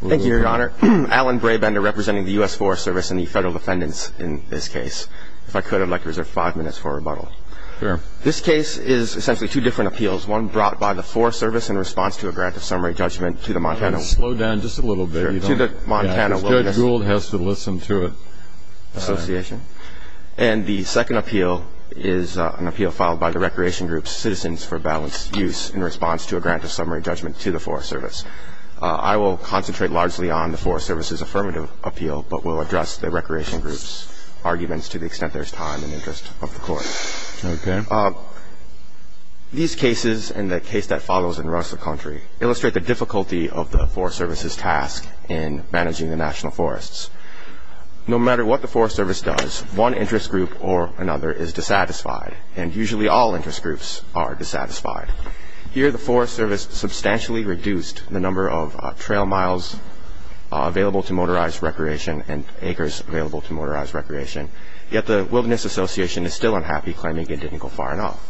Thank you, Your Honor. Allen Brabender, representing the U.S. Forest Service and the Federal Defendants in this case. If I could, I'd like to reserve five minutes for rebuttal. Sure. This case is essentially two different appeals, one brought by the Forest Service in response to a grant of summary judgment to the Montana... Slow down just a little bit. To the Montana Wilderness... Judge Gould has to listen to it. ...Association. And the second appeal is an appeal filed by the recreation group Citizens for Balanced Use in response to a grant of summary judgment to the Forest Service. I will concentrate largely on the Forest Service's affirmative appeal, but will address the recreation group's arguments to the extent there's time and interest of the court. Okay. These cases, and the case that follows in the rest of the country, illustrate the difficulty of the Forest Service's task in managing the national forests. No matter what the Forest Service does, one interest group or another is dissatisfied, and usually all interest groups are dissatisfied. Here, the Forest Service substantially reduced the number of trail miles available to motorized recreation and acres available to motorized recreation, yet the Wilderness Association is still unhappy, claiming it didn't go far enough.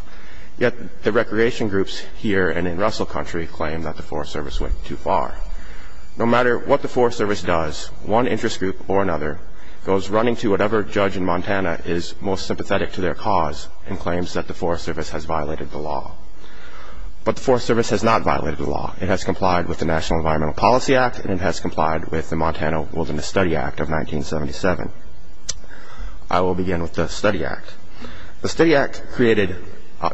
Yet the recreation groups here and in Russell country claim that the Forest Service went too far. No matter what the Forest Service does, one interest group or another goes running to whatever judge in Montana is most sympathetic to their cause and claims that the Forest Service has violated the law. But the Forest Service has not violated the law. It has complied with the National Environmental Policy Act, and it has complied with the Montana Wilderness Study Act of 1977. I will begin with the Study Act. The Study Act created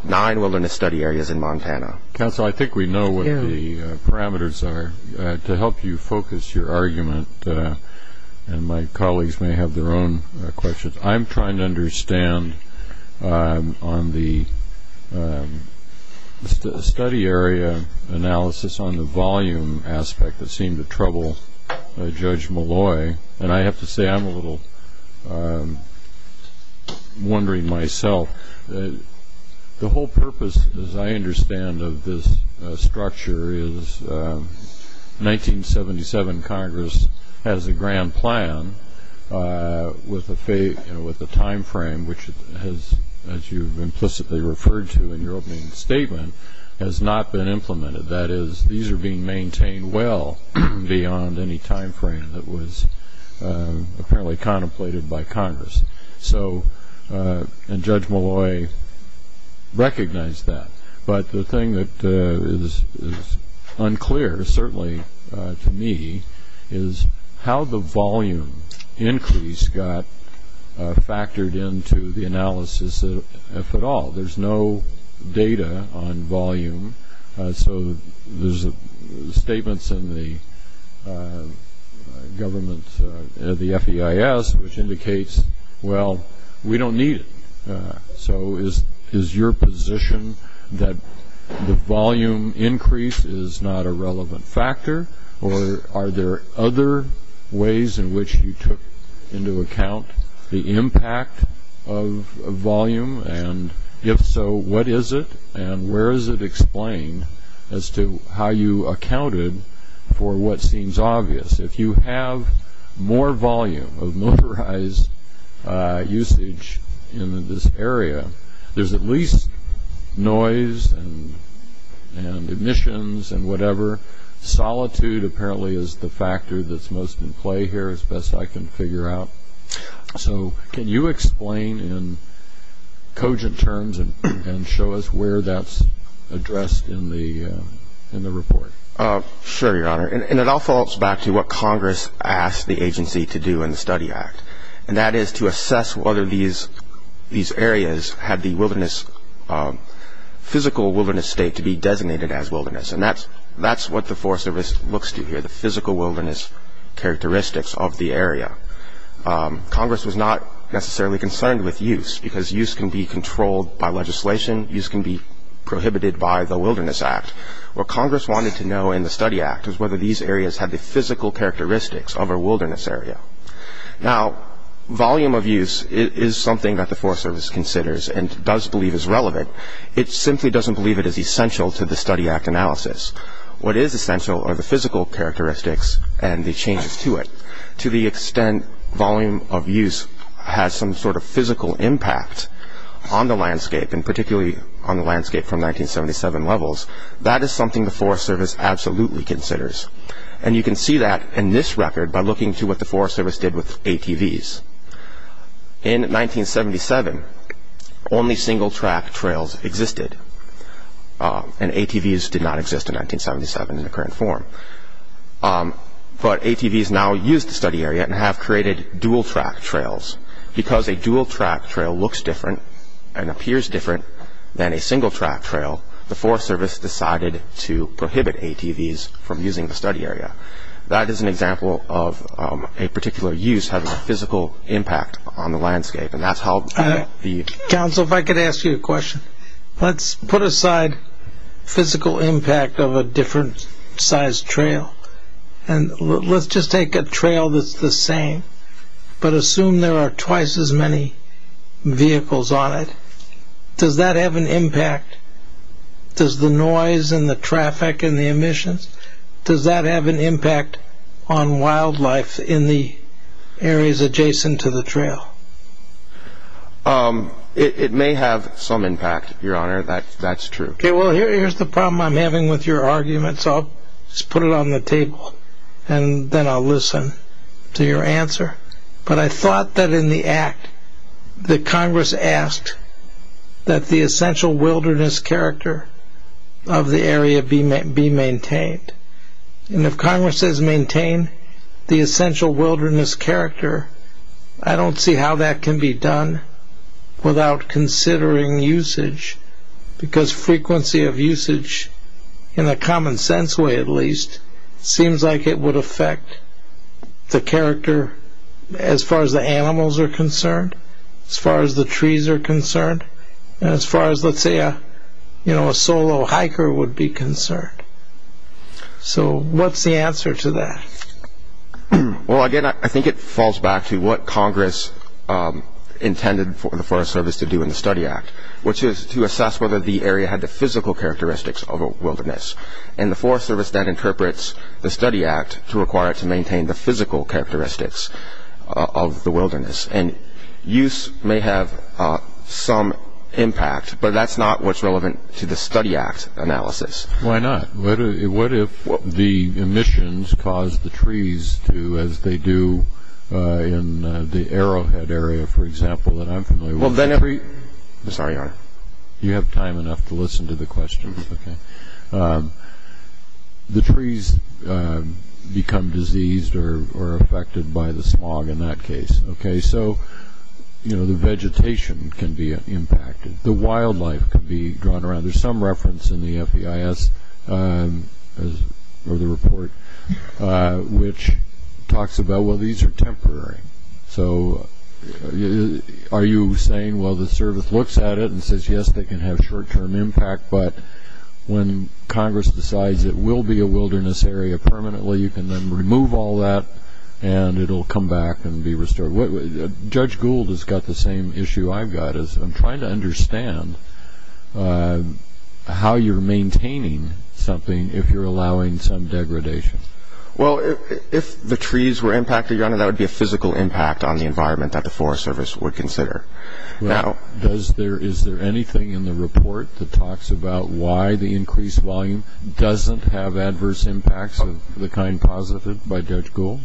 nine wilderness study areas in Montana. Counsel, I think we know what the parameters are. To help you focus your argument, and my colleagues may have their own questions, I'm trying to understand on the study area analysis on the volume aspect that seemed to trouble Judge Malloy, and I have to say I'm a little wondering myself. The whole purpose, as I understand of this structure, is 1977 Congress has a grand plan with a time frame, which as you implicitly referred to in your opening statement, has not been implemented. That is, these are being maintained well beyond any time frame that was apparently contemplated by Congress. And Judge Malloy recognized that. But the thing that is unclear, certainly to me, is how the volume increase got factored into the analysis, if at all. There's no data on volume. So there's statements in the government, the FEIS, which indicates, well, we don't need it. So is your position that the volume increase is not a relevant factor, or are there other ways in which you took into account the impact of volume, and if so, what is it and where is it explained as to how you accounted for what seems obvious? If you have more volume of motorized usage in this area, there's at least noise and emissions and whatever. Solitude apparently is the factor that's most in play here, as best I can figure out. So can you explain in cogent terms and show us where that's addressed in the report? Sure, Your Honor. And it all falls back to what Congress asked the agency to do in the Study Act, and that is to assess whether these areas had the physical wilderness state to be designated as wilderness. And that's what the Forest Service looks to here, the physical wilderness characteristics of the area. Congress was not necessarily concerned with use, because use can be controlled by legislation. Use can be prohibited by the Wilderness Act. What Congress wanted to know in the Study Act was whether these areas had the physical characteristics of a wilderness area. Now, volume of use is something that the Forest Service considers and does believe is relevant. It simply doesn't believe it is essential to the Study Act analysis. What is essential are the physical characteristics and the changes to it. To the extent volume of use has some sort of physical impact on the landscape, and particularly on the landscape from 1977 levels, that is something the Forest Service absolutely considers. And you can see that in this record by looking to what the Forest Service did with ATVs. In 1977, only single-track trails existed, and ATVs did not exist in 1977 in their current form. But ATVs now use the study area and have created dual-track trails. Because a dual-track trail looks different and appears different than a single-track trail, the Forest Service decided to prohibit ATVs from using the study area. That is an example of a particular use having a physical impact on the landscape, and that's how the… Council, if I could ask you a question. Let's put aside physical impact of a different-sized trail, and let's just take a trail that's the same, but assume there are twice as many vehicles on it. Does that have an impact? Does the noise and the traffic and the emissions, does that have an impact on wildlife in the areas adjacent to the trail? It may have some impact, Your Honor, that's true. Okay, well, here's the problem I'm having with your argument, so I'll just put it on the table, and then I'll listen to your answer. But I thought that in the act that Congress asked that the essential wilderness character of the area be maintained. And if Congress says maintain the essential wilderness character, I don't see how that can be done without considering usage, because frequency of usage, in a common sense way at least, seems like it would affect the character as far as the animals are concerned, as far as the trees are concerned, and as far as, let's say, a solo hiker would be concerned. So what's the answer to that? Well, again, I think it falls back to what Congress intended for the Forest Service to do in the Study Act, which is to assess whether the area had the physical characteristics of a wilderness. And the Forest Service then interprets the Study Act to require it to maintain the physical characteristics of the wilderness. And use may have some impact, but that's not what's relevant to the Study Act analysis. Why not? What if the emissions cause the trees to, as they do in the Arrowhead area, for example, that I'm familiar with? Well, then every... I'm sorry, Your Honor. You have time enough to listen to the questions, okay? The trees become diseased or affected by the smog in that case, okay? So, you know, the vegetation can be impacted. The wildlife can be drawn around. There's some reference in the FEIS, or the report, which talks about, well, these are temporary. So are you saying, well, the Service looks at it and says, yes, they can have short-term impact, but when Congress decides it will be a wilderness area permanently, you can then remove all that, and it will come back and be restored? Judge Gould has got the same issue I've got. I'm trying to understand how you're maintaining something if you're allowing some degradation. Well, if the trees were impacted, Your Honor, that would be a physical impact on the environment that the Forest Service would consider. Is there anything in the report that talks about why the increased volume doesn't have adverse impacts of the kind posited by Judge Gould?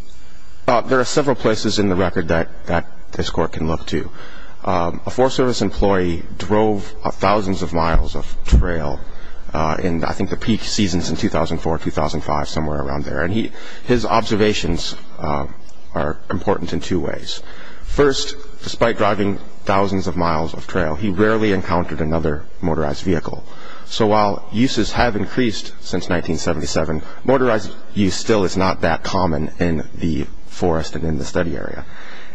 There are several places in the record that this Court can look to. A Forest Service employee drove thousands of miles of trail in, I think, the peak seasons in 2004, 2005, somewhere around there, and his observations are important in two ways. First, despite driving thousands of miles of trail, he rarely encountered another motorized vehicle. So while uses have increased since 1977, motorized use still is not that common in the forest and in the study area.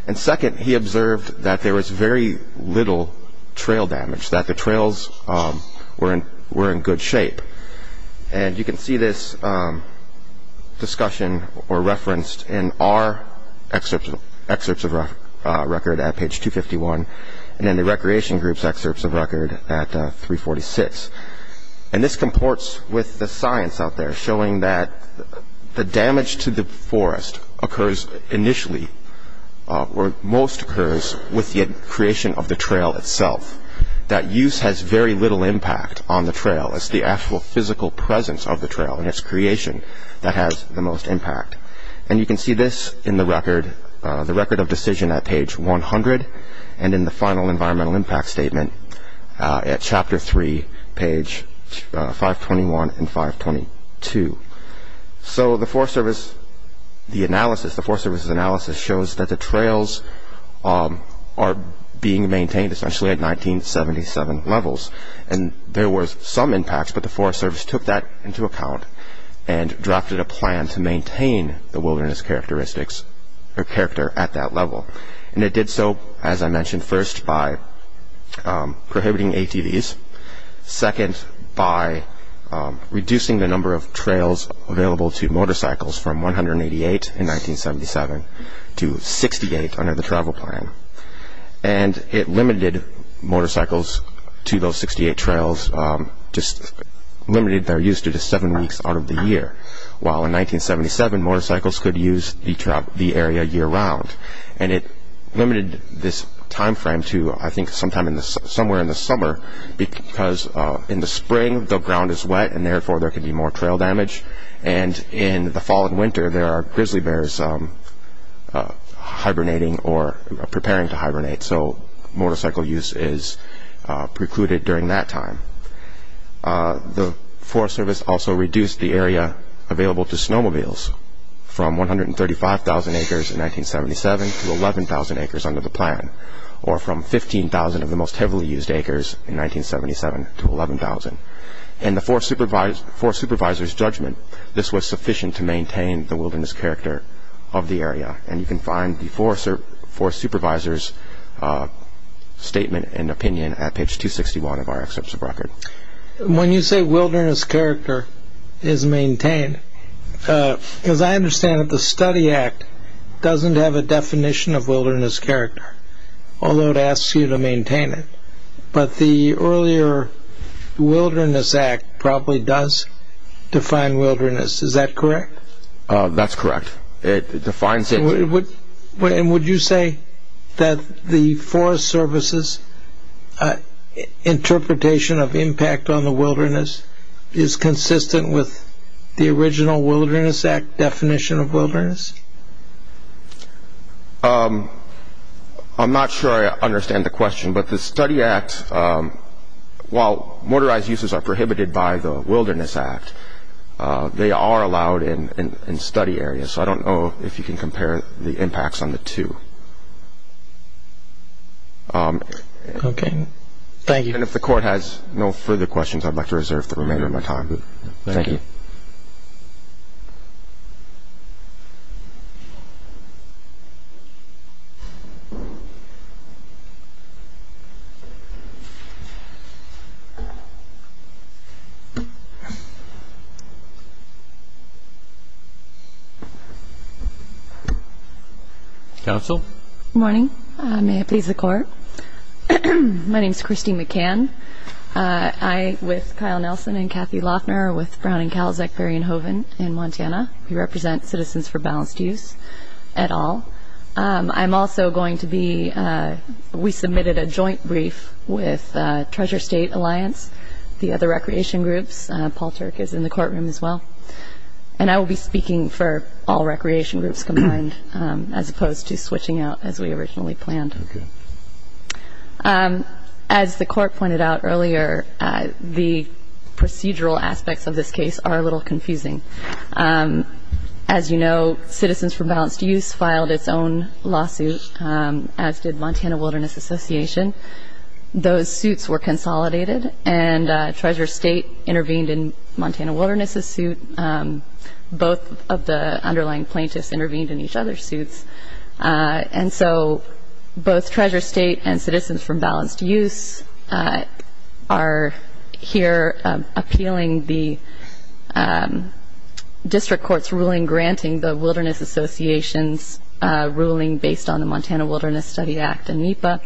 And second, he observed that there was very little trail damage, that the trails were in good shape. And you can see this discussion referenced in our excerpts of record at page 251 and in the Recreation Group's excerpts of record at 346. And this comports with the science out there showing that the damage to the forest occurs initially, or most occurs, with the creation of the trail itself, that use has very little impact on the trail. It's the actual physical presence of the trail and its creation that has the most impact. And you can see this in the record of decision at page 100 and in the final environmental impact statement at chapter 3, page 521 and 522. So the Forest Service's analysis shows that the trails are being maintained essentially at 1977 levels, and there were some impacts, but the Forest Service took that into account and drafted a plan to maintain the wilderness characteristics or character at that level. And it did so, as I mentioned, first by prohibiting ATVs, second by reducing the number of trails available to motorcycles from 188 in 1977 to 68 under the travel plan. And it limited motorcycles to those 68 trails, just limited their use to just seven weeks out of the year, while in 1977 motorcycles could use the area year-round. And it limited this time frame to, I think, sometime somewhere in the summer, because in the spring the ground is wet and therefore there could be more trail damage, and in the fall and winter there are grizzly bears hibernating or preparing to hibernate, so motorcycle use is precluded during that time. The Forest Service also reduced the area available to snowmobiles from 135,000 acres in 1977 to 11,000 acres under the plan, or from 15,000 of the most heavily used acres in 1977 to 11,000. In the Forest Supervisor's judgment, this was sufficient to maintain the wilderness character of the area, and you can find the Forest Supervisor's statement and opinion at page 261 of our Excerpts of Record. When you say wilderness character is maintained, as I understand it, the Study Act doesn't have a definition of wilderness character, although it asks you to maintain it. But the earlier Wilderness Act probably does define wilderness. Is that correct? That's correct. It defines it. And would you say that the Forest Service's interpretation of impact on the wilderness I'm not sure I understand the question, but the Study Act, while motorized uses are prohibited by the Wilderness Act, they are allowed in study areas, so I don't know if you can compare the impacts on the two. Okay, thank you. And if the Court has no further questions, I'd like to reserve the remainder of my time. Thank you. Thank you. Counsel. Good morning. May it please the Court. My name is Kristi McCann. I, with Kyle Nelson and Kathy Loughner, are with Brown and Calzek, Berry and Hoven in Montana. We represent citizens for balanced use at all. I'm also going to be, we submitted a joint brief with Treasure State Alliance, the other recreation groups. Paul Turk is in the courtroom as well. And I will be speaking for all recreation groups combined, as opposed to switching out as we originally planned. Okay. As the Court pointed out earlier, the procedural aspects of this case are a little confusing. As you know, citizens for balanced use filed its own lawsuit, as did Montana Wilderness Association. Those suits were consolidated, and Treasure State intervened in Montana Wilderness' suit. Both of the underlying plaintiffs intervened in each other's suits. And so both Treasure State and Citizens for Balanced Use are here appealing the district court's ruling, granting the Wilderness Association's ruling based on the Montana Wilderness Study Act and NEPA.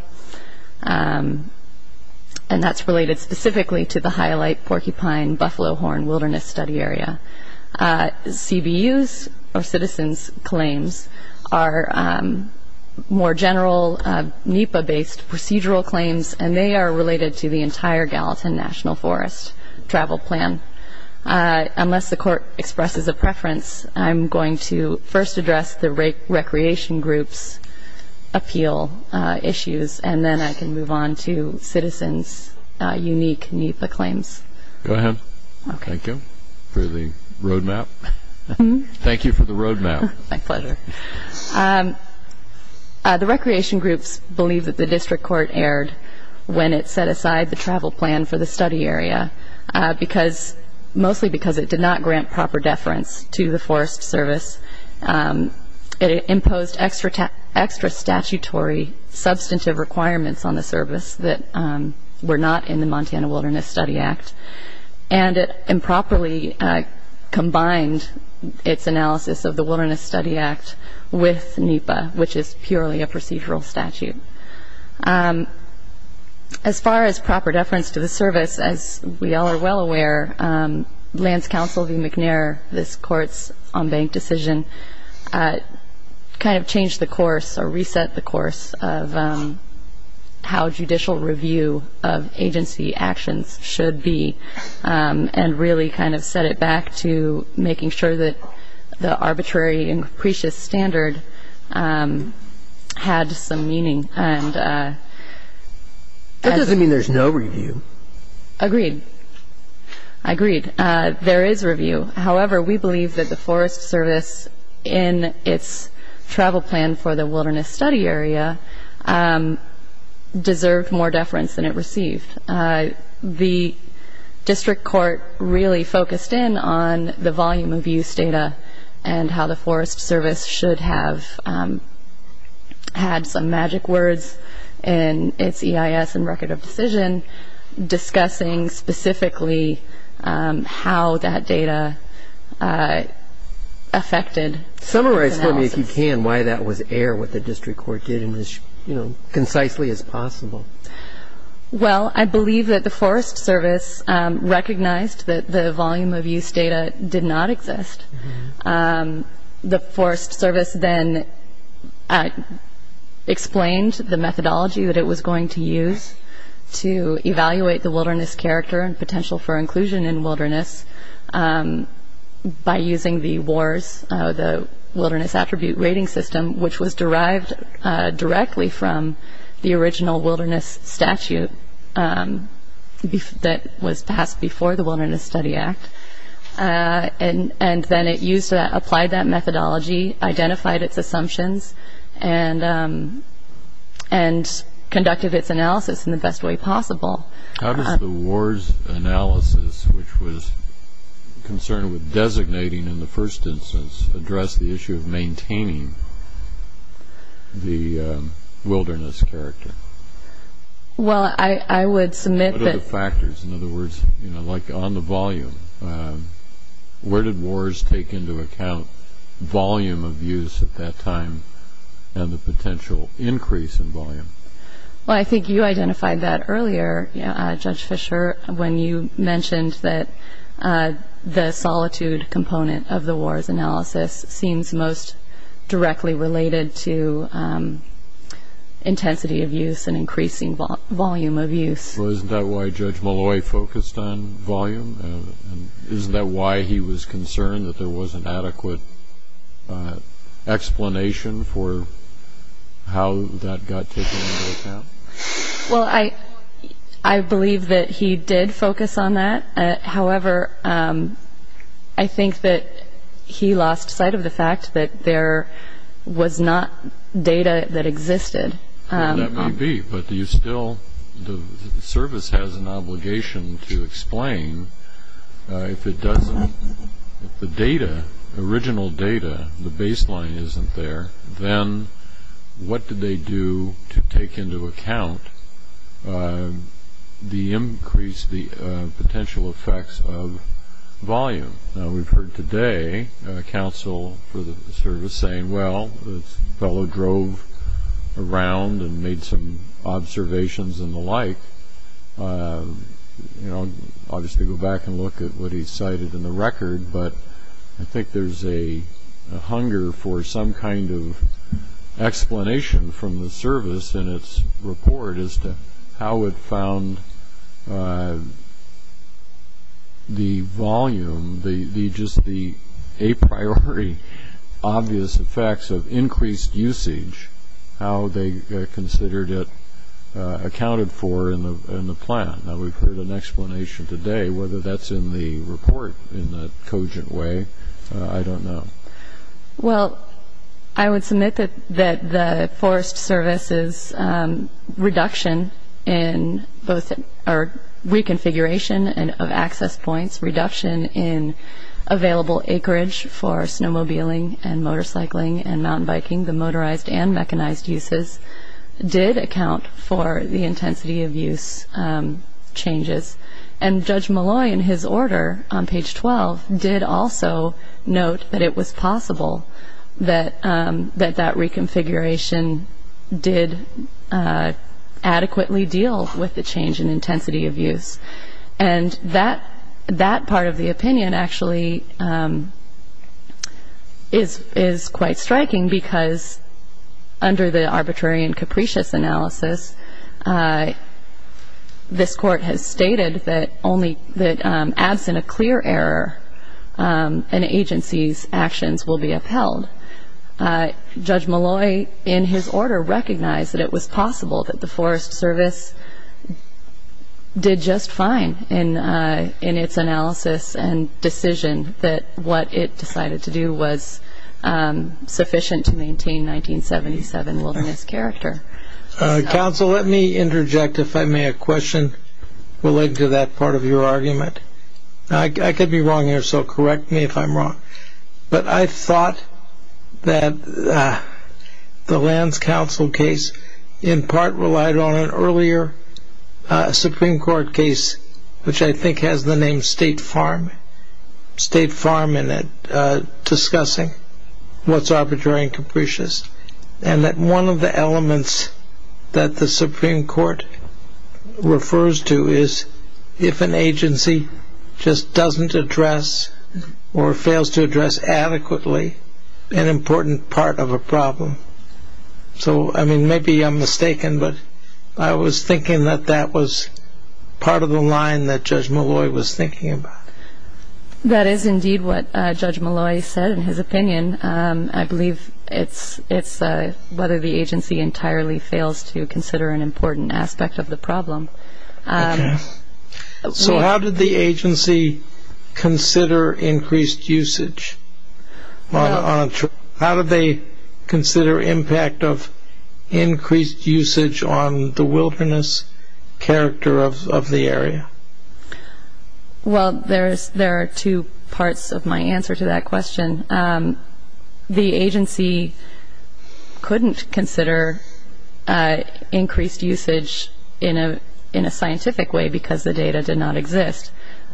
And that's related specifically to the Highlight Porcupine Buffalo Horn Wilderness Study Area. CBU's or citizens' claims are more general NEPA-based procedural claims, and they are related to the entire Gallatin National Forest Travel Plan. Unless the Court expresses a preference, I'm going to first address the recreation groups' appeal issues, and then I can move on to citizens' unique NEPA claims. Go ahead. Thank you for the road map. Thank you for the road map. My pleasure. The recreation groups believe that the district court erred when it set aside the travel plan for the study area, mostly because it did not grant proper deference to the Forest Service. It imposed extra statutory substantive requirements on the service that were not in the Montana Wilderness Study Act. And it improperly combined its analysis of the Wilderness Study Act with NEPA, which is purely a procedural statute. As far as proper deference to the service, as we all are well aware, Lands Council v. McNair, this Court's on-bank decision, kind of changed the course or reset the course of how judicial review of agency actions should be, and really kind of set it back to making sure that the arbitrary and capricious standard had some meaning. That doesn't mean there's no review. Agreed. Agreed. There is review. However, we believe that the Forest Service, in its travel plan for the Wilderness Study area, deserved more deference than it received. The district court really focused in on the volume of use data and how the Forest Service should have had some magic words in its EIS and Record of Decision, discussing specifically how that data affected its analysis. Summarize for me, if you can, why that was air, what the district court did, and as concisely as possible. Well, I believe that the Forest Service recognized that the volume of use data did not exist. The Forest Service then explained the methodology that it was going to use to evaluate the wilderness character and potential for inclusion in wilderness by using the WARS, the Wilderness Attribute Rating System, which was derived directly from the original Wilderness Statute that was passed before the Wilderness Study Act. And then it applied that methodology, identified its assumptions, and conducted its analysis in the best way possible. How does the WARS analysis, which was concerned with designating in the first instance, address the issue of maintaining the wilderness character? Well, I would submit that... In other words, like on the volume, where did WARS take into account volume of use at that time and the potential increase in volume? Well, I think you identified that earlier, Judge Fischer, when you mentioned that the solitude component of the WARS analysis seems most directly related to intensity of use and increasing volume of use. So isn't that why Judge Malloy focused on volume? Isn't that why he was concerned that there wasn't adequate explanation for how that got taken into account? Well, I believe that he did focus on that. However, I think that he lost sight of the fact that there was not data that existed. Well, that may be, but you still... The service has an obligation to explain. If it doesn't... If the data, the original data, the baseline isn't there, then what did they do to take into account the increase, the potential effects of volume? Now, we've heard today a counsel for the service saying, well, his fellow drove around and made some observations and the like. I'll just go back and look at what he cited in the record, but I think there's a hunger for some kind of explanation from the service in its report as to how it found the volume, just the a priori obvious effects of increased usage, how they considered it accounted for in the plan. Now, we've heard an explanation today. Whether that's in the report in a cogent way, I don't know. Well, I would submit that the Forest Service's reduction in both reconfiguration of access points, reduction in available acreage for snowmobiling and motorcycling and mountain biking, the motorized and mechanized uses, did account for the intensity of use changes. And Judge Malloy, in his order on page 12, did also note that it was possible that that reconfiguration did adequately deal with the change in intensity of use. And that part of the opinion actually is quite striking because under the arbitrary and capricious analysis, this Court has stated that absent a clear error, an agency's actions will be upheld. Judge Malloy, in his order, recognized that it was possible that the Forest Service did just fine in its analysis and decision that what it decided to do was sufficient to maintain 1977 wilderness character. Counsel, let me interject, if I may, a question related to that part of your argument. I could be wrong here, so correct me if I'm wrong. But I thought that the Lands Council case in part relied on an earlier Supreme Court case, which I think has the name State Farm in it, discussing what's arbitrary and capricious. And that one of the elements that the Supreme Court refers to is if an agency just doesn't address or fails to address adequately an important part of a problem. So maybe I'm mistaken, but I was thinking that that was part of the line that Judge Malloy was thinking about. That is indeed what Judge Malloy said in his opinion. I believe it's whether the agency entirely fails to consider an important aspect of the problem. So how did the agency consider increased usage? How did they consider impact of increased usage on the wilderness character of the area? Well, there are two parts of my answer to that question. The agency couldn't consider increased usage in a scientific way because the data did not exist.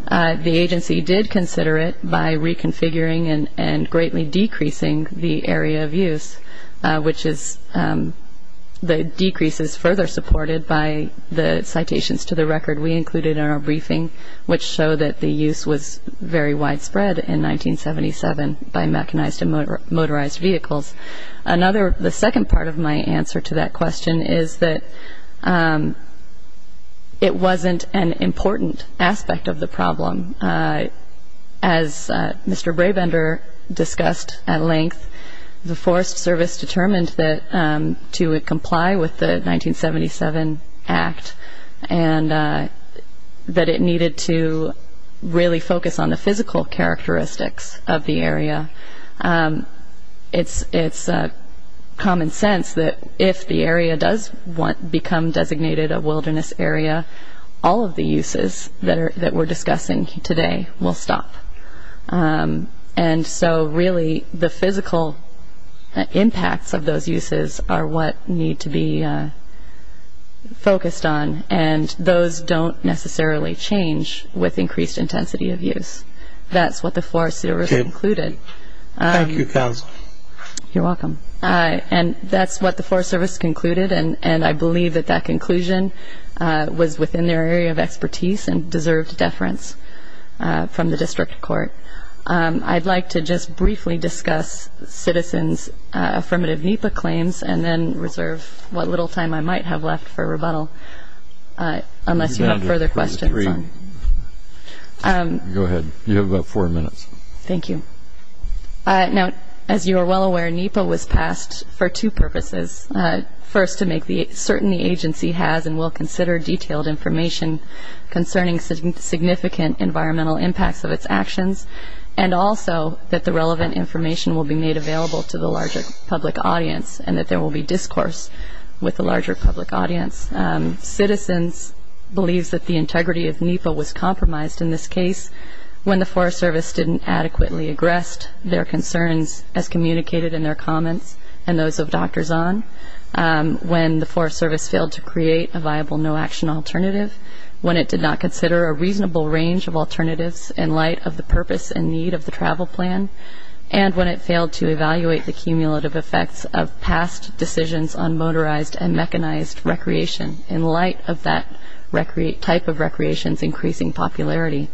The agency did consider it by reconfiguring and greatly decreasing the area of use, which is the decreases further supported by the citations to the record we included in our briefing, which show that the use was very widespread in 1977 by mechanized and motorized vehicles. The second part of my answer to that question is that it wasn't an important aspect of the problem. As Mr. Brabender discussed at length, the Forest Service determined to comply with the 1977 Act and that it needed to really focus on the physical characteristics of the area. It's common sense that if the area does become designated a wilderness area, all of the uses that we're discussing today will stop. And so really the physical impacts of those uses are what need to be focused on, and those don't necessarily change with increased intensity of use. That's what the Forest Service concluded. Thank you, Councillor. You're welcome. And that's what the Forest Service concluded, and I believe that that conclusion was within their area of expertise and deserved deference from the district court. I'd like to just briefly discuss Citizens' Affirmative NEPA claims and then reserve what little time I might have left for rebuttal unless you have further questions. Go ahead. You have about four minutes. Thank you. Now, as you are well aware, NEPA was passed for two purposes. First, to make certain the agency has and will consider detailed information concerning significant environmental impacts of its actions, and also that the relevant information will be made available to the larger public audience and that there will be discourse with the larger public audience. Citizens believes that the integrity of NEPA was compromised in this case when the Forest Service didn't adequately address their concerns as communicated in their comments and those of Dr. Zahn, when the Forest Service failed to create a viable no-action alternative, when it did not consider a reasonable range of alternatives in light of the purpose and need of the travel plan, and when it failed to evaluate the cumulative effects of past decisions on motorized and mechanized recreation in light of that type of recreation's increasing popularity.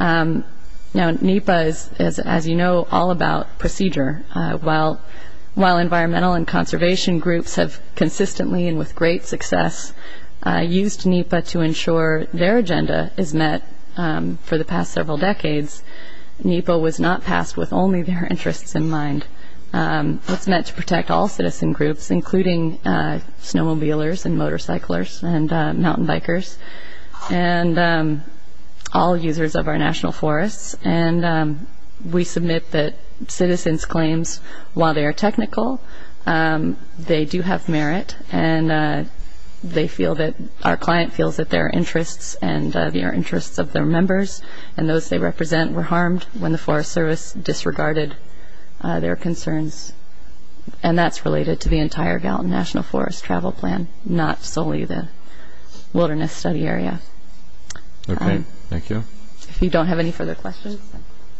Now, NEPA is, as you know, all about procedure. While environmental and conservation groups have consistently and with great success used NEPA to ensure their agenda is met for the past several decades, NEPA was not passed with only their interests in mind. It's meant to protect all citizen groups, including snowmobilers and motorcyclers and mountain bikers. And all users of our national forests. And we submit that citizens' claims, while they are technical, they do have merit and our client feels that their interests and the interests of their members and those they represent were harmed when the Forest Service disregarded their concerns. And that's related to the entire Gallatin National Forest Travel Plan, not solely the wilderness study area. Okay, thank you. If you don't have any further questions.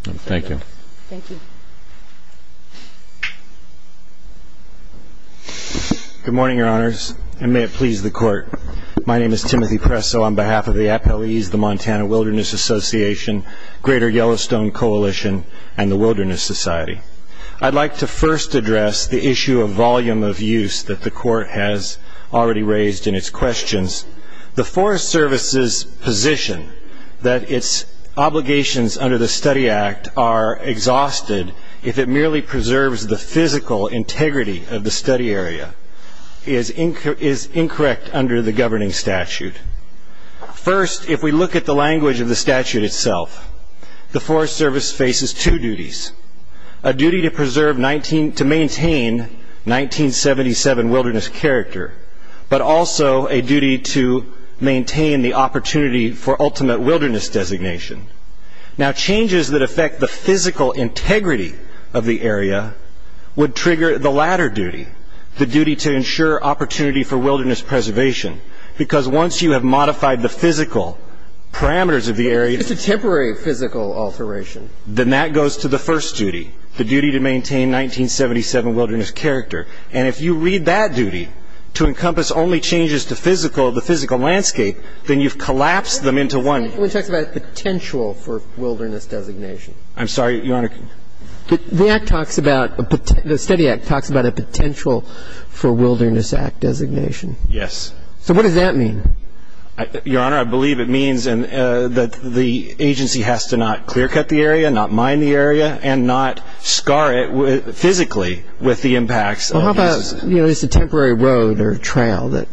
Thank you. Thank you. Good morning, Your Honors, and may it please the Court. My name is Timothy Presso on behalf of the appellees, the Montana Wilderness Association, Greater Yellowstone Coalition, and the Wilderness Society. I'd like to first address the issue of volume of use that the Court has already raised in its questions. The Forest Service's position that its obligations under the Study Act are exhausted if it merely preserves the physical integrity of the study area is incorrect under the governing statute. First, if we look at the language of the statute itself, the Forest Service faces two duties. A duty to preserve 19 to maintain 1977 wilderness character, but also a duty to maintain the opportunity for ultimate wilderness designation. Now, changes that affect the physical integrity of the area would trigger the latter duty, the duty to ensure opportunity for wilderness preservation, because once you have modified the physical parameters of the area. It's a temporary physical alteration. Then that goes to the first duty, the duty to maintain 1977 wilderness character. And if you read that duty to encompass only changes to physical, the physical landscape, then you've collapsed them into one. It talks about potential for wilderness designation. I'm sorry, Your Honor. The Act talks about, the Study Act talks about a potential for wilderness act designation. Yes. So what does that mean? Your Honor, I believe it means that the agency has to not clear-cut the area, not mine the area, and not scar it physically with the impacts. Well, how about, you know, it's a temporary road or trail that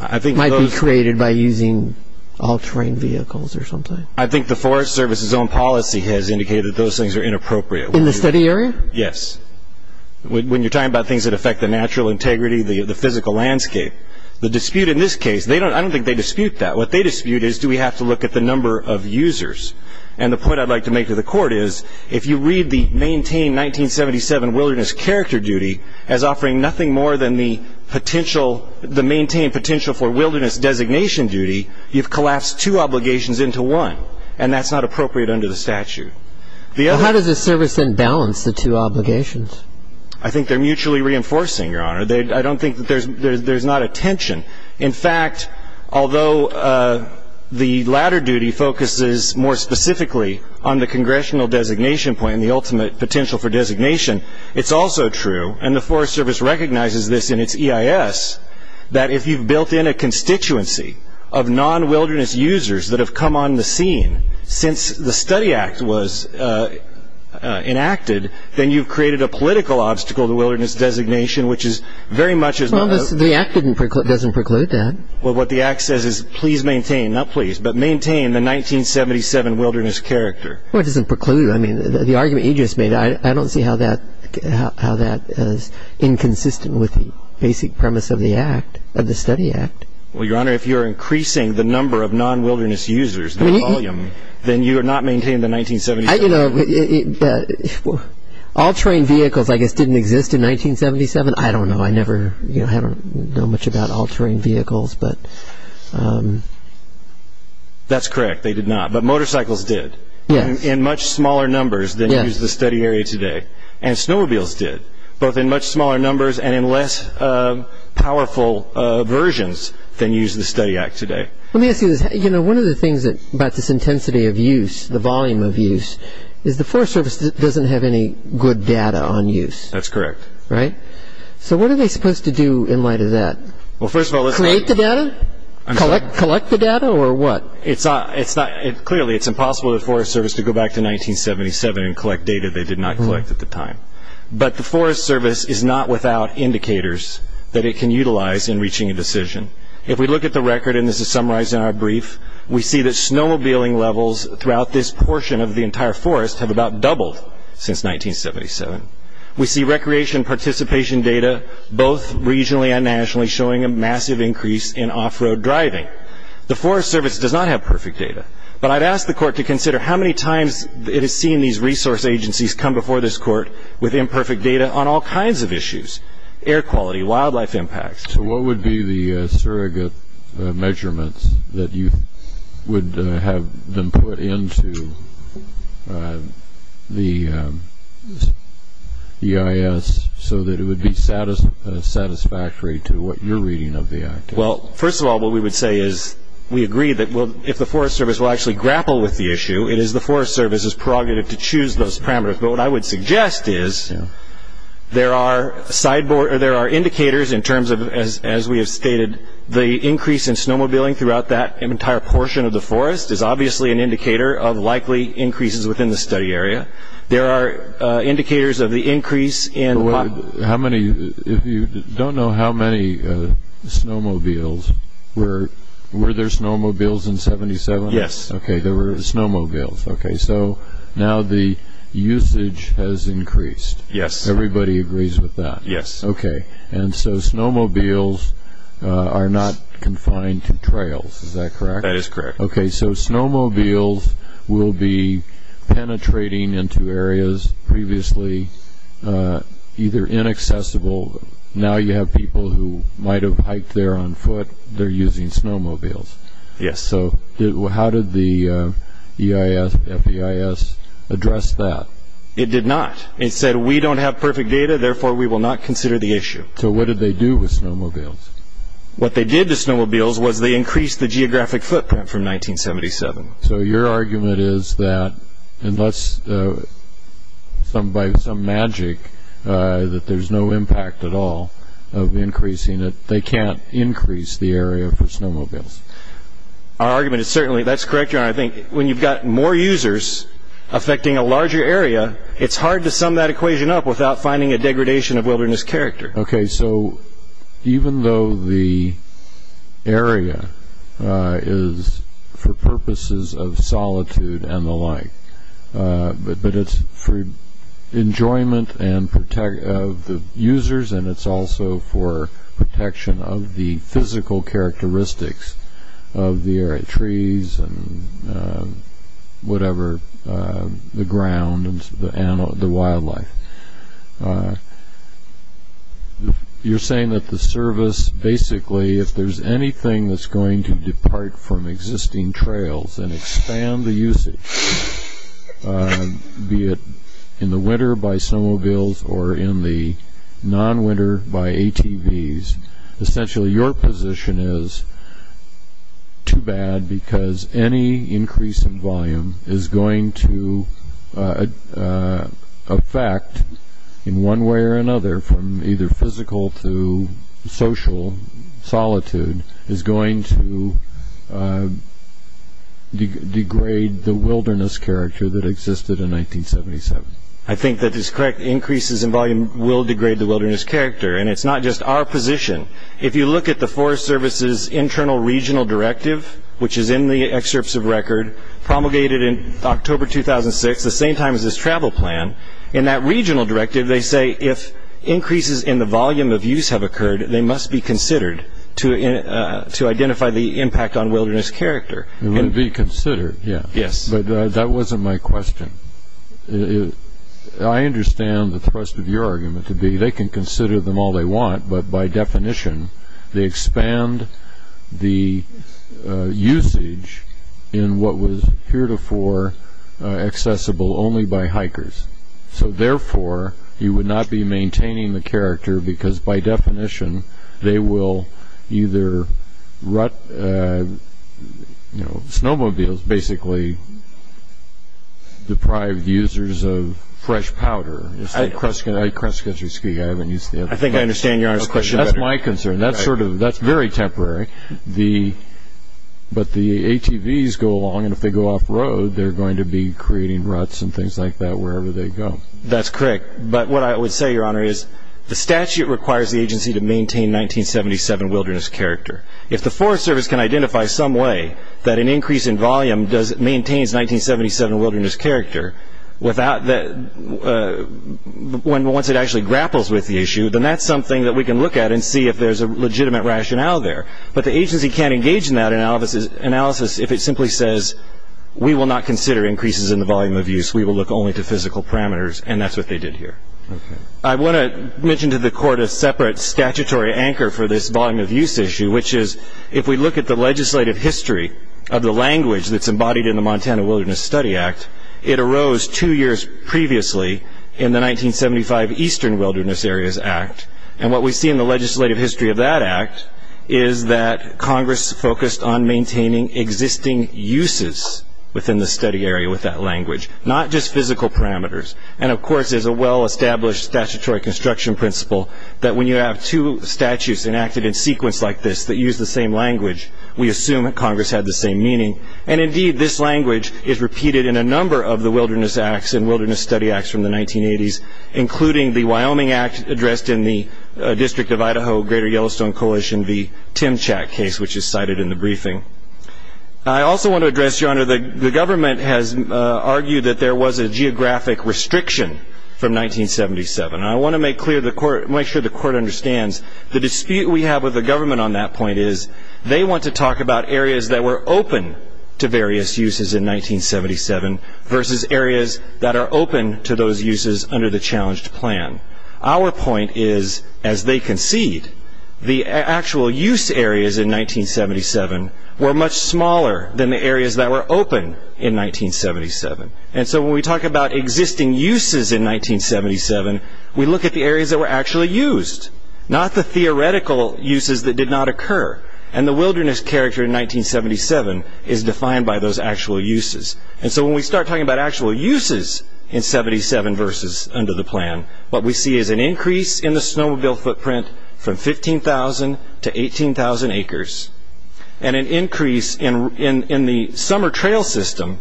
might be created by using all-terrain vehicles or something. I think the Forest Service's own policy has indicated those things are inappropriate. In the study area? Yes. When you're talking about things that affect the natural integrity, the physical landscape. The dispute in this case, I don't think they dispute that. What they dispute is, do we have to look at the number of users? And the point I'd like to make to the Court is, if you read the maintain 1977 wilderness character duty as offering nothing more than the potential, the maintain potential for wilderness designation duty, you've collapsed two obligations into one. And that's not appropriate under the statute. How does the Service then balance the two obligations? I think they're mutually reinforcing, Your Honor. I don't think there's not a tension. In fact, although the latter duty focuses more specifically on the congressional designation point and the ultimate potential for designation, it's also true, and the Forest Service recognizes this in its EIS, that if you've built in a constituency of non-wilderness users that have come on the scene since the study act was enacted, then you've created a political obstacle to wilderness designation, which is very much as... Well, the act doesn't preclude that. Well, what the act says is, please maintain, not please, but maintain the 1977 wilderness character. Well, it doesn't preclude. I mean, the argument you just made, I don't see how that is inconsistent with the basic premise of the act, of the study act. Well, Your Honor, if you're increasing the number of non-wilderness users, the volume, then you're not maintaining the 1977... All-terrain vehicles, I guess, didn't exist in 1977. I don't know. I never know much about all-terrain vehicles, but... That's correct. They did not. But motorcycles did in much smaller numbers than used the study area today, and snowmobiles did, both in much smaller numbers and in less powerful versions than used the study act today. Let me ask you this. You know, one of the things about this intensity of use, the volume of use, is the Forest Service doesn't have any good data on use. That's correct. Right? So what are they supposed to do in light of that? Well, first of all, let's... Create the data? I'm sorry? Collect the data, or what? It's not... Clearly, it's impossible for the Forest Service to go back to 1977 and collect data they did not collect at the time. But the Forest Service is not without indicators that it can utilize in reaching a decision. If we look at the record, and this is summarized in our brief, we see that snowmobiling levels throughout this portion of the entire forest have about doubled since 1977. We see recreation participation data, both regionally and nationally, showing a massive increase in off-road driving. The Forest Service does not have perfect data, but I'd ask the court to consider how many times it has seen these resource agencies come before this court with imperfect data on all kinds of issues, air quality, wildlife impacts. So what would be the surrogate measurements that you would have them put into the EIS so that it would be satisfactory to what you're reading of the act? Well, first of all, what we would say is we agree that if the Forest Service will actually grapple with the issue, it is the Forest Service's prerogative to choose those parameters. But what I would suggest is there are indicators in terms of, as we have stated, the increase in snowmobiling throughout that entire portion of the forest is obviously an indicator of likely increases within the study area. There are indicators of the increase in... How many, if you don't know how many snowmobiles, were there snowmobiles in 77? Yes. Okay, there were snowmobiles. Okay, so now the usage has increased. Yes. Everybody agrees with that? Yes. Okay, and so snowmobiles are not confined to trails, is that correct? That is correct. Okay, so snowmobiles will be penetrating into areas previously either inaccessible... Now you have people who might have hiked there on foot, they're using snowmobiles. Yes. Okay, so how did the EIS, FEIS address that? It did not. It said we don't have perfect data, therefore we will not consider the issue. So what did they do with snowmobiles? What they did to snowmobiles was they increased the geographic footprint from 1977. So your argument is that unless by some magic that there's no impact at all of increasing it, they can't increase the area for snowmobiles. Our argument is certainly that's correct. I think when you've got more users affecting a larger area, it's hard to sum that equation up without finding a degradation of wilderness character. Okay, so even though the area is for purposes of solitude and the like, but it's for enjoyment of the users and it's also for protection of the physical characteristics of the area, trees and whatever, the ground and the wildlife. You're saying that the service basically, if there's anything that's going to depart from existing trails and expand the usage, be it in the winter by snowmobiles or in the non-winter by ATVs, essentially your position is too bad because any increase in volume is going to affect, in one way or another, from either physical to social, is going to degrade the wilderness character that existed in 1977. I think that is correct. Increases in volume will degrade the wilderness character and it's not just our position. If you look at the Forest Service's internal regional directive, which is in the excerpts of record promulgated in October 2006, the same time as this travel plan, in that regional directive they say if increases in the volume of use have occurred, they must be considered to identify the impact on wilderness character. They would be considered, yeah. Yes. But that wasn't my question. I understand the thrust of your argument to be they can consider them all they want, but by definition they expand the usage in what was heretofore accessible only by hikers. So, therefore, you would not be maintaining the character because, by definition, they will either rut snowmobiles, basically deprive users of fresh powder. I think I understand your question better. That's my concern. That's very temporary. But the ATVs go along and if they go off-road, they're going to be creating ruts and things like that wherever they go. That's correct. But what I would say, Your Honor, is the statute requires the agency to maintain 1977 wilderness character. If the Forest Service can identify some way that an increase in volume maintains 1977 wilderness character, once it actually grapples with the issue, then that's something that we can look at and see if there's a legitimate rationale there. But the agency can't engage in that analysis if it simply says, we will not consider increases in the volume of use, we will look only to physical parameters, and that's what they did here. I want to mention to the Court a separate statutory anchor for this volume of use issue, which is if we look at the legislative history of the language that's embodied in the Montana Wilderness Study Act, it arose two years previously in the 1975 Eastern Wilderness Areas Act. What we see in the legislative history of that act is that Congress focused on maintaining existing uses within the study area with that language, not just physical parameters. Of course, there's a well-established statutory construction principle that when you have two statutes enacted in sequence like this that use the same language, we assume that Congress had the same meaning. Indeed, this language is repeated in a number of the wilderness acts and wilderness study acts from the 1980s, including the Wyoming Act addressed in the District of Idaho Greater Yellowstone Coalition, the Timchak case, which is cited in the briefing. I also want to address, Your Honor, the government has argued that there was a geographic restriction from 1977. I want to make sure the Court understands the dispute we have with the government on that point is they want to talk about areas that were open to various uses in 1977 versus areas that are open to those uses under the challenged plan. Our point is, as they concede, the actual use areas in 1977 were much smaller than the areas that were open in 1977. When we talk about existing uses in 1977, we look at the areas that were actually used, not the theoretical uses that did not occur. The wilderness character in 1977 is defined by those actual uses. When we start talking about actual uses in 1977 versus under the plan, what we see is an increase in the snowmobile footprint from 15,000 to 18,000 acres and an increase in the summer trail system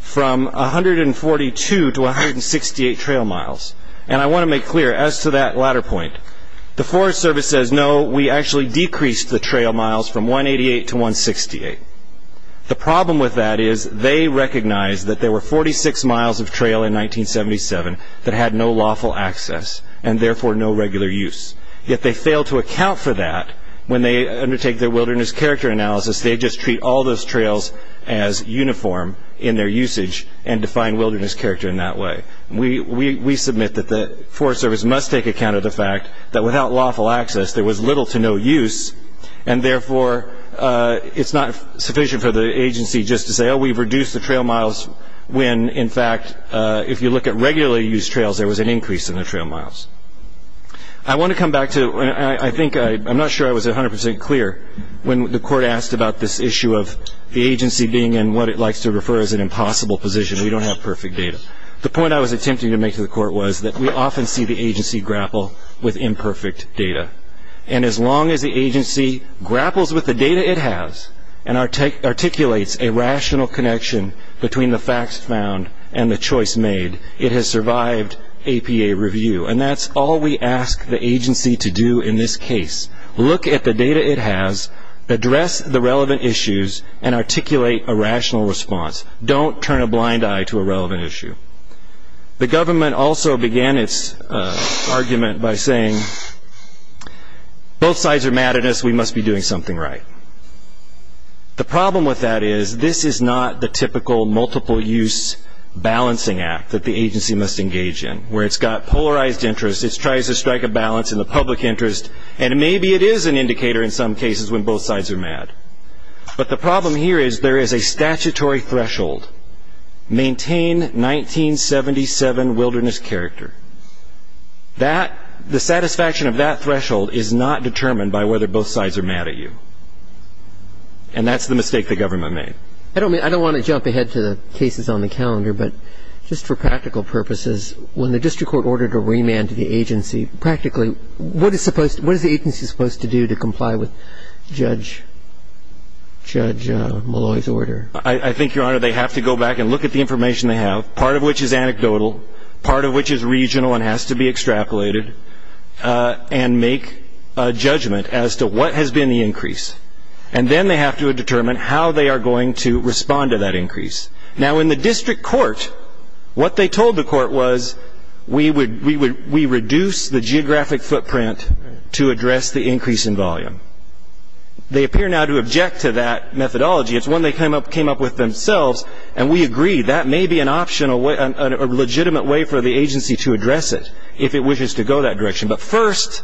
from 142 to 168 trail miles. I want to make clear, as to that latter point, the Forest Service says, no, we actually decreased the trail miles from 188 to 168. The problem with that is they recognize that there were 46 miles of trail in 1977 that had no lawful access and therefore no regular use. Yet they fail to account for that when they undertake their wilderness character analysis. They just treat all those trails as uniform in their usage and define wilderness character in that way. We submit that the Forest Service must take account of the fact that without lawful access, there was little to no use and therefore it's not sufficient for the agency just to say, oh, we've reduced the trail miles when, in fact, if you look at regular use trails, there was an increase in the trail miles. I want to come back to, and I think, I'm not sure I was 100% clear, when the court asked about this issue of the agency being in what it likes to refer as an impossible position. We don't have perfect data. The point I was attempting to make to the court was that we often see the agency grapple with imperfect data. And as long as the agency grapples with the data it has and articulates a rational connection between the facts found and the choice made, it has survived APA review. And that's all we ask the agency to do in this case. Look at the data it has, address the relevant issues, and articulate a rational response. Don't turn a blind eye to a relevant issue. The government also began its argument by saying both sides are mad at us, we must be doing something right. The problem with that is this is not the typical multiple use balancing act that the agency must engage in, where it's got polarized interests, it tries to strike a balance in the public interest, and maybe it is an indicator in some cases when both sides are mad. But the problem here is there is a statutory threshold, maintain 1977 wilderness character. The satisfaction of that threshold is not determined by whether both sides are mad at you. And that's the mistake the government made. I don't want to jump ahead to the cases on the calendar, but just for practical purposes, when the district court ordered a remand to the agency, what is the agency supposed to do to comply with Judge Malloy's order? I think, Your Honor, they have to go back and look at the information they have, part of which is anecdotal, part of which is regional and has to be extrapolated, and make a judgment as to what has been the increase. And then they have to determine how they are going to respond to that increase. Now, in the district court, what they told the court was, we reduce the geographic footprint to address the increase in volume. They appear now to object to that methodology. It's one they came up with themselves, and we agree that may be an option, a legitimate way for the agency to address it if it wishes to go that direction. But first,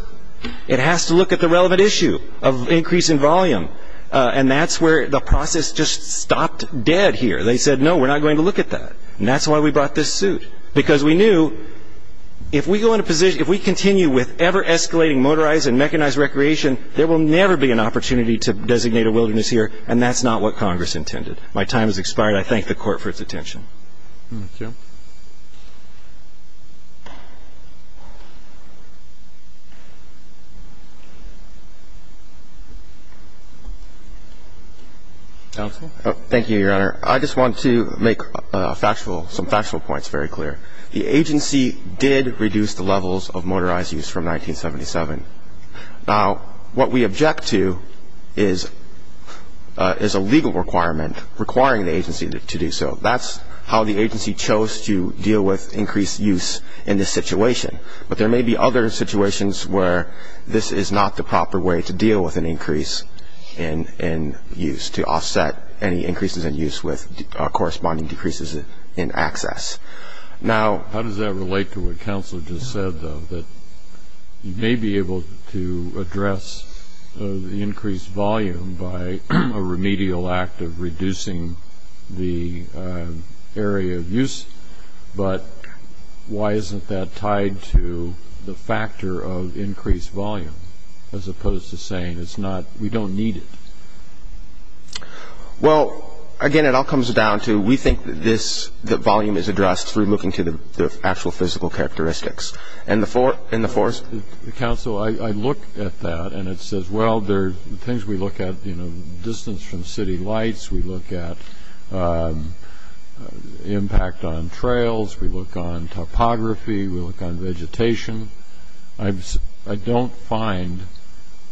it has to look at the relevant issue of increase in volume, and that's where the process just stopped dead here. They said, no, we're not going to look at that, and that's why we brought this suit, because we knew if we go in a position, if we continue with ever-escalating motorized and mechanized recreation, there will never be an opportunity to designate a wilderness here, and that's not what Congress intended. My time has expired. I thank the Court for its attention. Thank you. Counsel? Thank you, Your Honor. I just want to make some factual points very clear. The agency did reduce the levels of motorized use from 1977. Now, what we object to is a legal requirement requiring the agency to do so. That's how the agency chose to deal with increased use in this situation. But there may be other situations where this is not the proper way to deal with an increase in use, to offset any increases in use with corresponding decreases in access. Now, how does that relate to what counsel just said, though, that you may be able to address the increased volume by a remedial act of reducing the area of use, but why isn't that tied to the factor of increased volume, as opposed to saying we don't need it? Well, again, it all comes down to we think the volume is addressed through looking to the actual physical characteristics. Counsel, I look at that, and it says, well, there are things we look at, you know, distance from city lights. We look at impact on trails. We look on topography. We look on vegetation. I don't find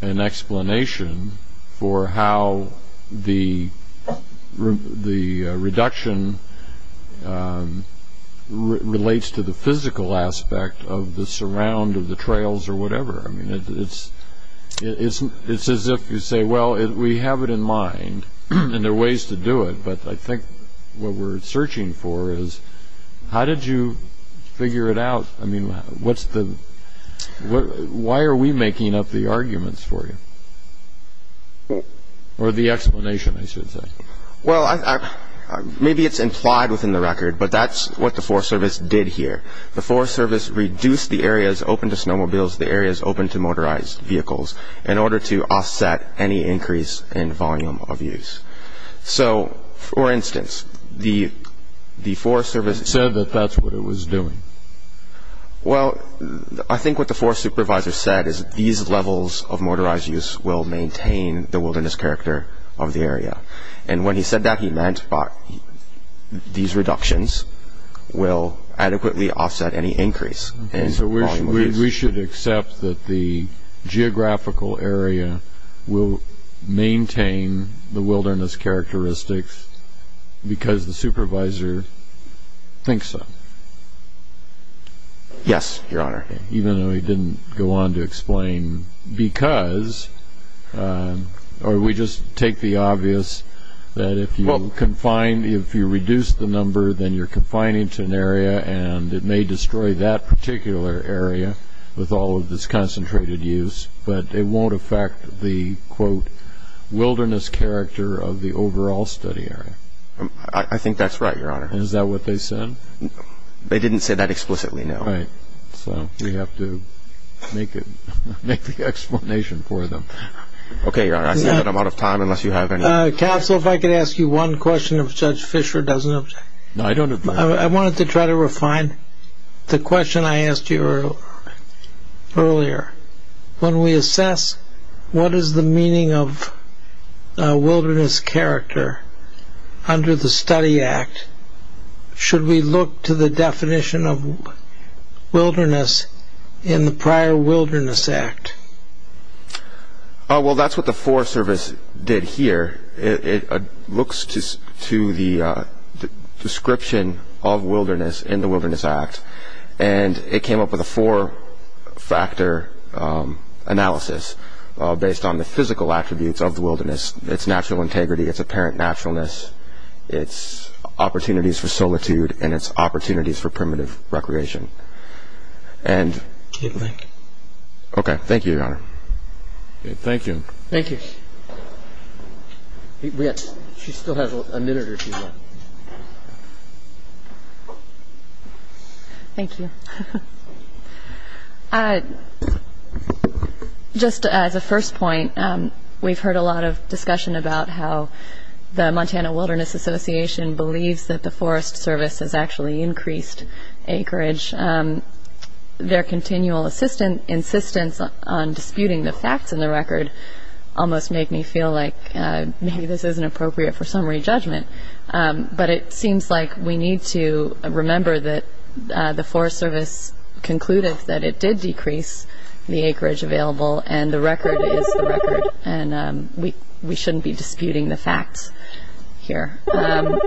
an explanation for how the reduction relates to the physical aspect of the surround of the trails or whatever. I mean, it's as if you say, well, we have it in mind, and there are ways to do it, but I think what we're searching for is how did you figure it out? I mean, why are we making up the arguments for you, or the explanation, I should say? Well, maybe it's implied within the record, but that's what the Forest Service did here. The Forest Service reduced the areas open to snowmobiles, the areas open to motorized vehicles, in order to offset any increase in volume of use. So, for instance, the Forest Service said that that's what it was doing. Well, I think what the Forest Supervisor said is these levels of motorized use will maintain the wilderness character of the area, and when he said that, he meant these reductions will adequately offset any increase in volume of use. So we should accept that the geographical area will maintain the wilderness characteristics because the Supervisor thinks so? Yes, Your Honor. Even though he didn't go on to explain because, or we just take the obvious that if you reduce the number, then you're confining to an area, and it may destroy that particular area with all of this concentrated use, but it won't affect the, quote, wilderness character of the overall study area? I think that's right, Your Honor. Is that what they said? They didn't say that explicitly, no. All right. So we have to make the explanation for them. Okay, Your Honor. I see that I'm out of time, unless you have any... Counsel, if I could ask you one question, if Judge Fischer doesn't object. No, I don't object. I wanted to try to refine the question I asked you earlier. When we assess what is the meaning of wilderness character under the Study Act, should we look to the definition of wilderness in the prior Wilderness Act? Well, that's what the Forest Service did here. It looks to the description of wilderness in the Wilderness Act, and it came up with a four-factor analysis based on the physical attributes of the wilderness, its natural integrity, its apparent naturalness, its opportunities for solitude, and its opportunities for primitive recreation. Okay, thank you, Your Honor. Thank you. Thank you. She still has a minute or two left. Thank you. Just as a first point, we've heard a lot of discussion about how the Montana Wilderness Association believes that the Forest Service has actually increased acreage. Their continual insistence on disputing the facts in the record almost make me feel like maybe this isn't appropriate for summary judgment. But it seems like we need to remember that the Forest Service concluded that it did decrease the acreage available, and the record is the record, and we shouldn't be disputing the facts here. I'm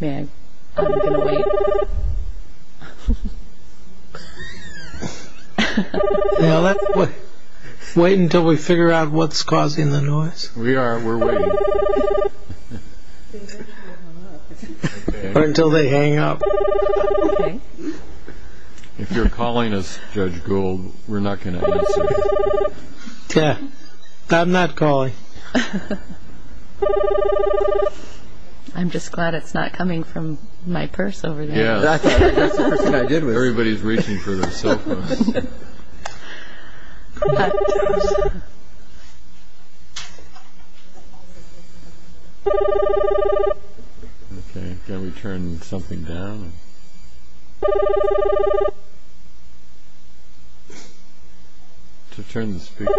going to wait. Now, let's wait until we figure out what's causing the noise. We are. We're waiting. Or until they hang up. If you're calling us, Judge Gould, we're not going to answer. Yeah, I'm not calling. Okay. I'm just glad it's not coming from my purse over there. Yeah, that's the person I did with. Everybody's reaching for their cell phones. Okay, can we turn something down? To turn the speaker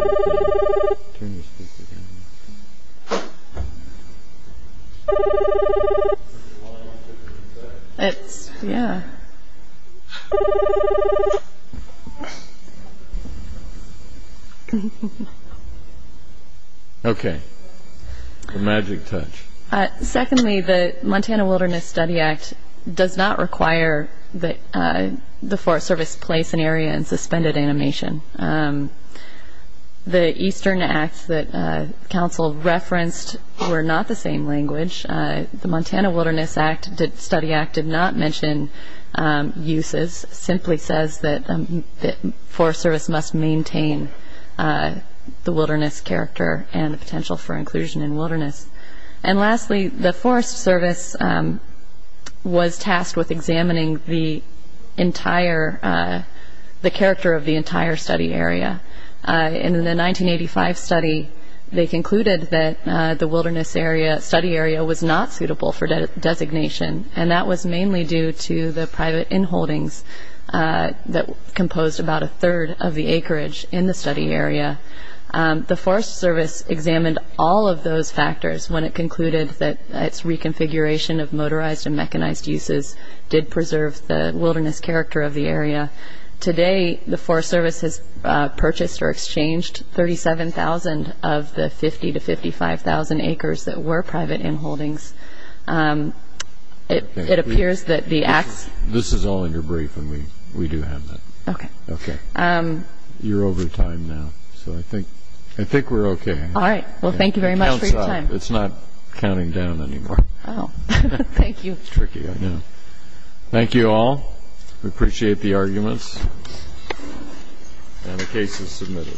down. It's, yeah. Okay, a magic touch. Secondly, the Montana Wilderness Study Act does not require that the Forest Service place an area in suspended animation. The Eastern Acts that counsel referenced were not the same language. The Montana Wilderness Study Act did not mention uses. It simply says that the Forest Service must maintain the wilderness character and the potential for inclusion in wilderness. And lastly, the Forest Service was tasked with examining the entire, the character of the entire study area. In the 1985 study, they concluded that the wilderness area, study area was not suitable for designation, and that was mainly due to the private inholdings that composed about a third of the acreage in the study area. The Forest Service examined all of those factors when it concluded that its reconfiguration of motorized and mechanized uses did preserve the wilderness character of the area. Today, the Forest Service has purchased or exchanged 37,000 of the 50,000 to 55,000 acres that were private inholdings. It appears that the acts. This is all in your brief, and we do have that. Okay. Okay. You're over time now, so I think we're okay. All right. Well, thank you very much for your time. It's not counting down anymore. Oh. Thank you. It's tricky right now. Thank you all. We appreciate the arguments. And the case is submitted.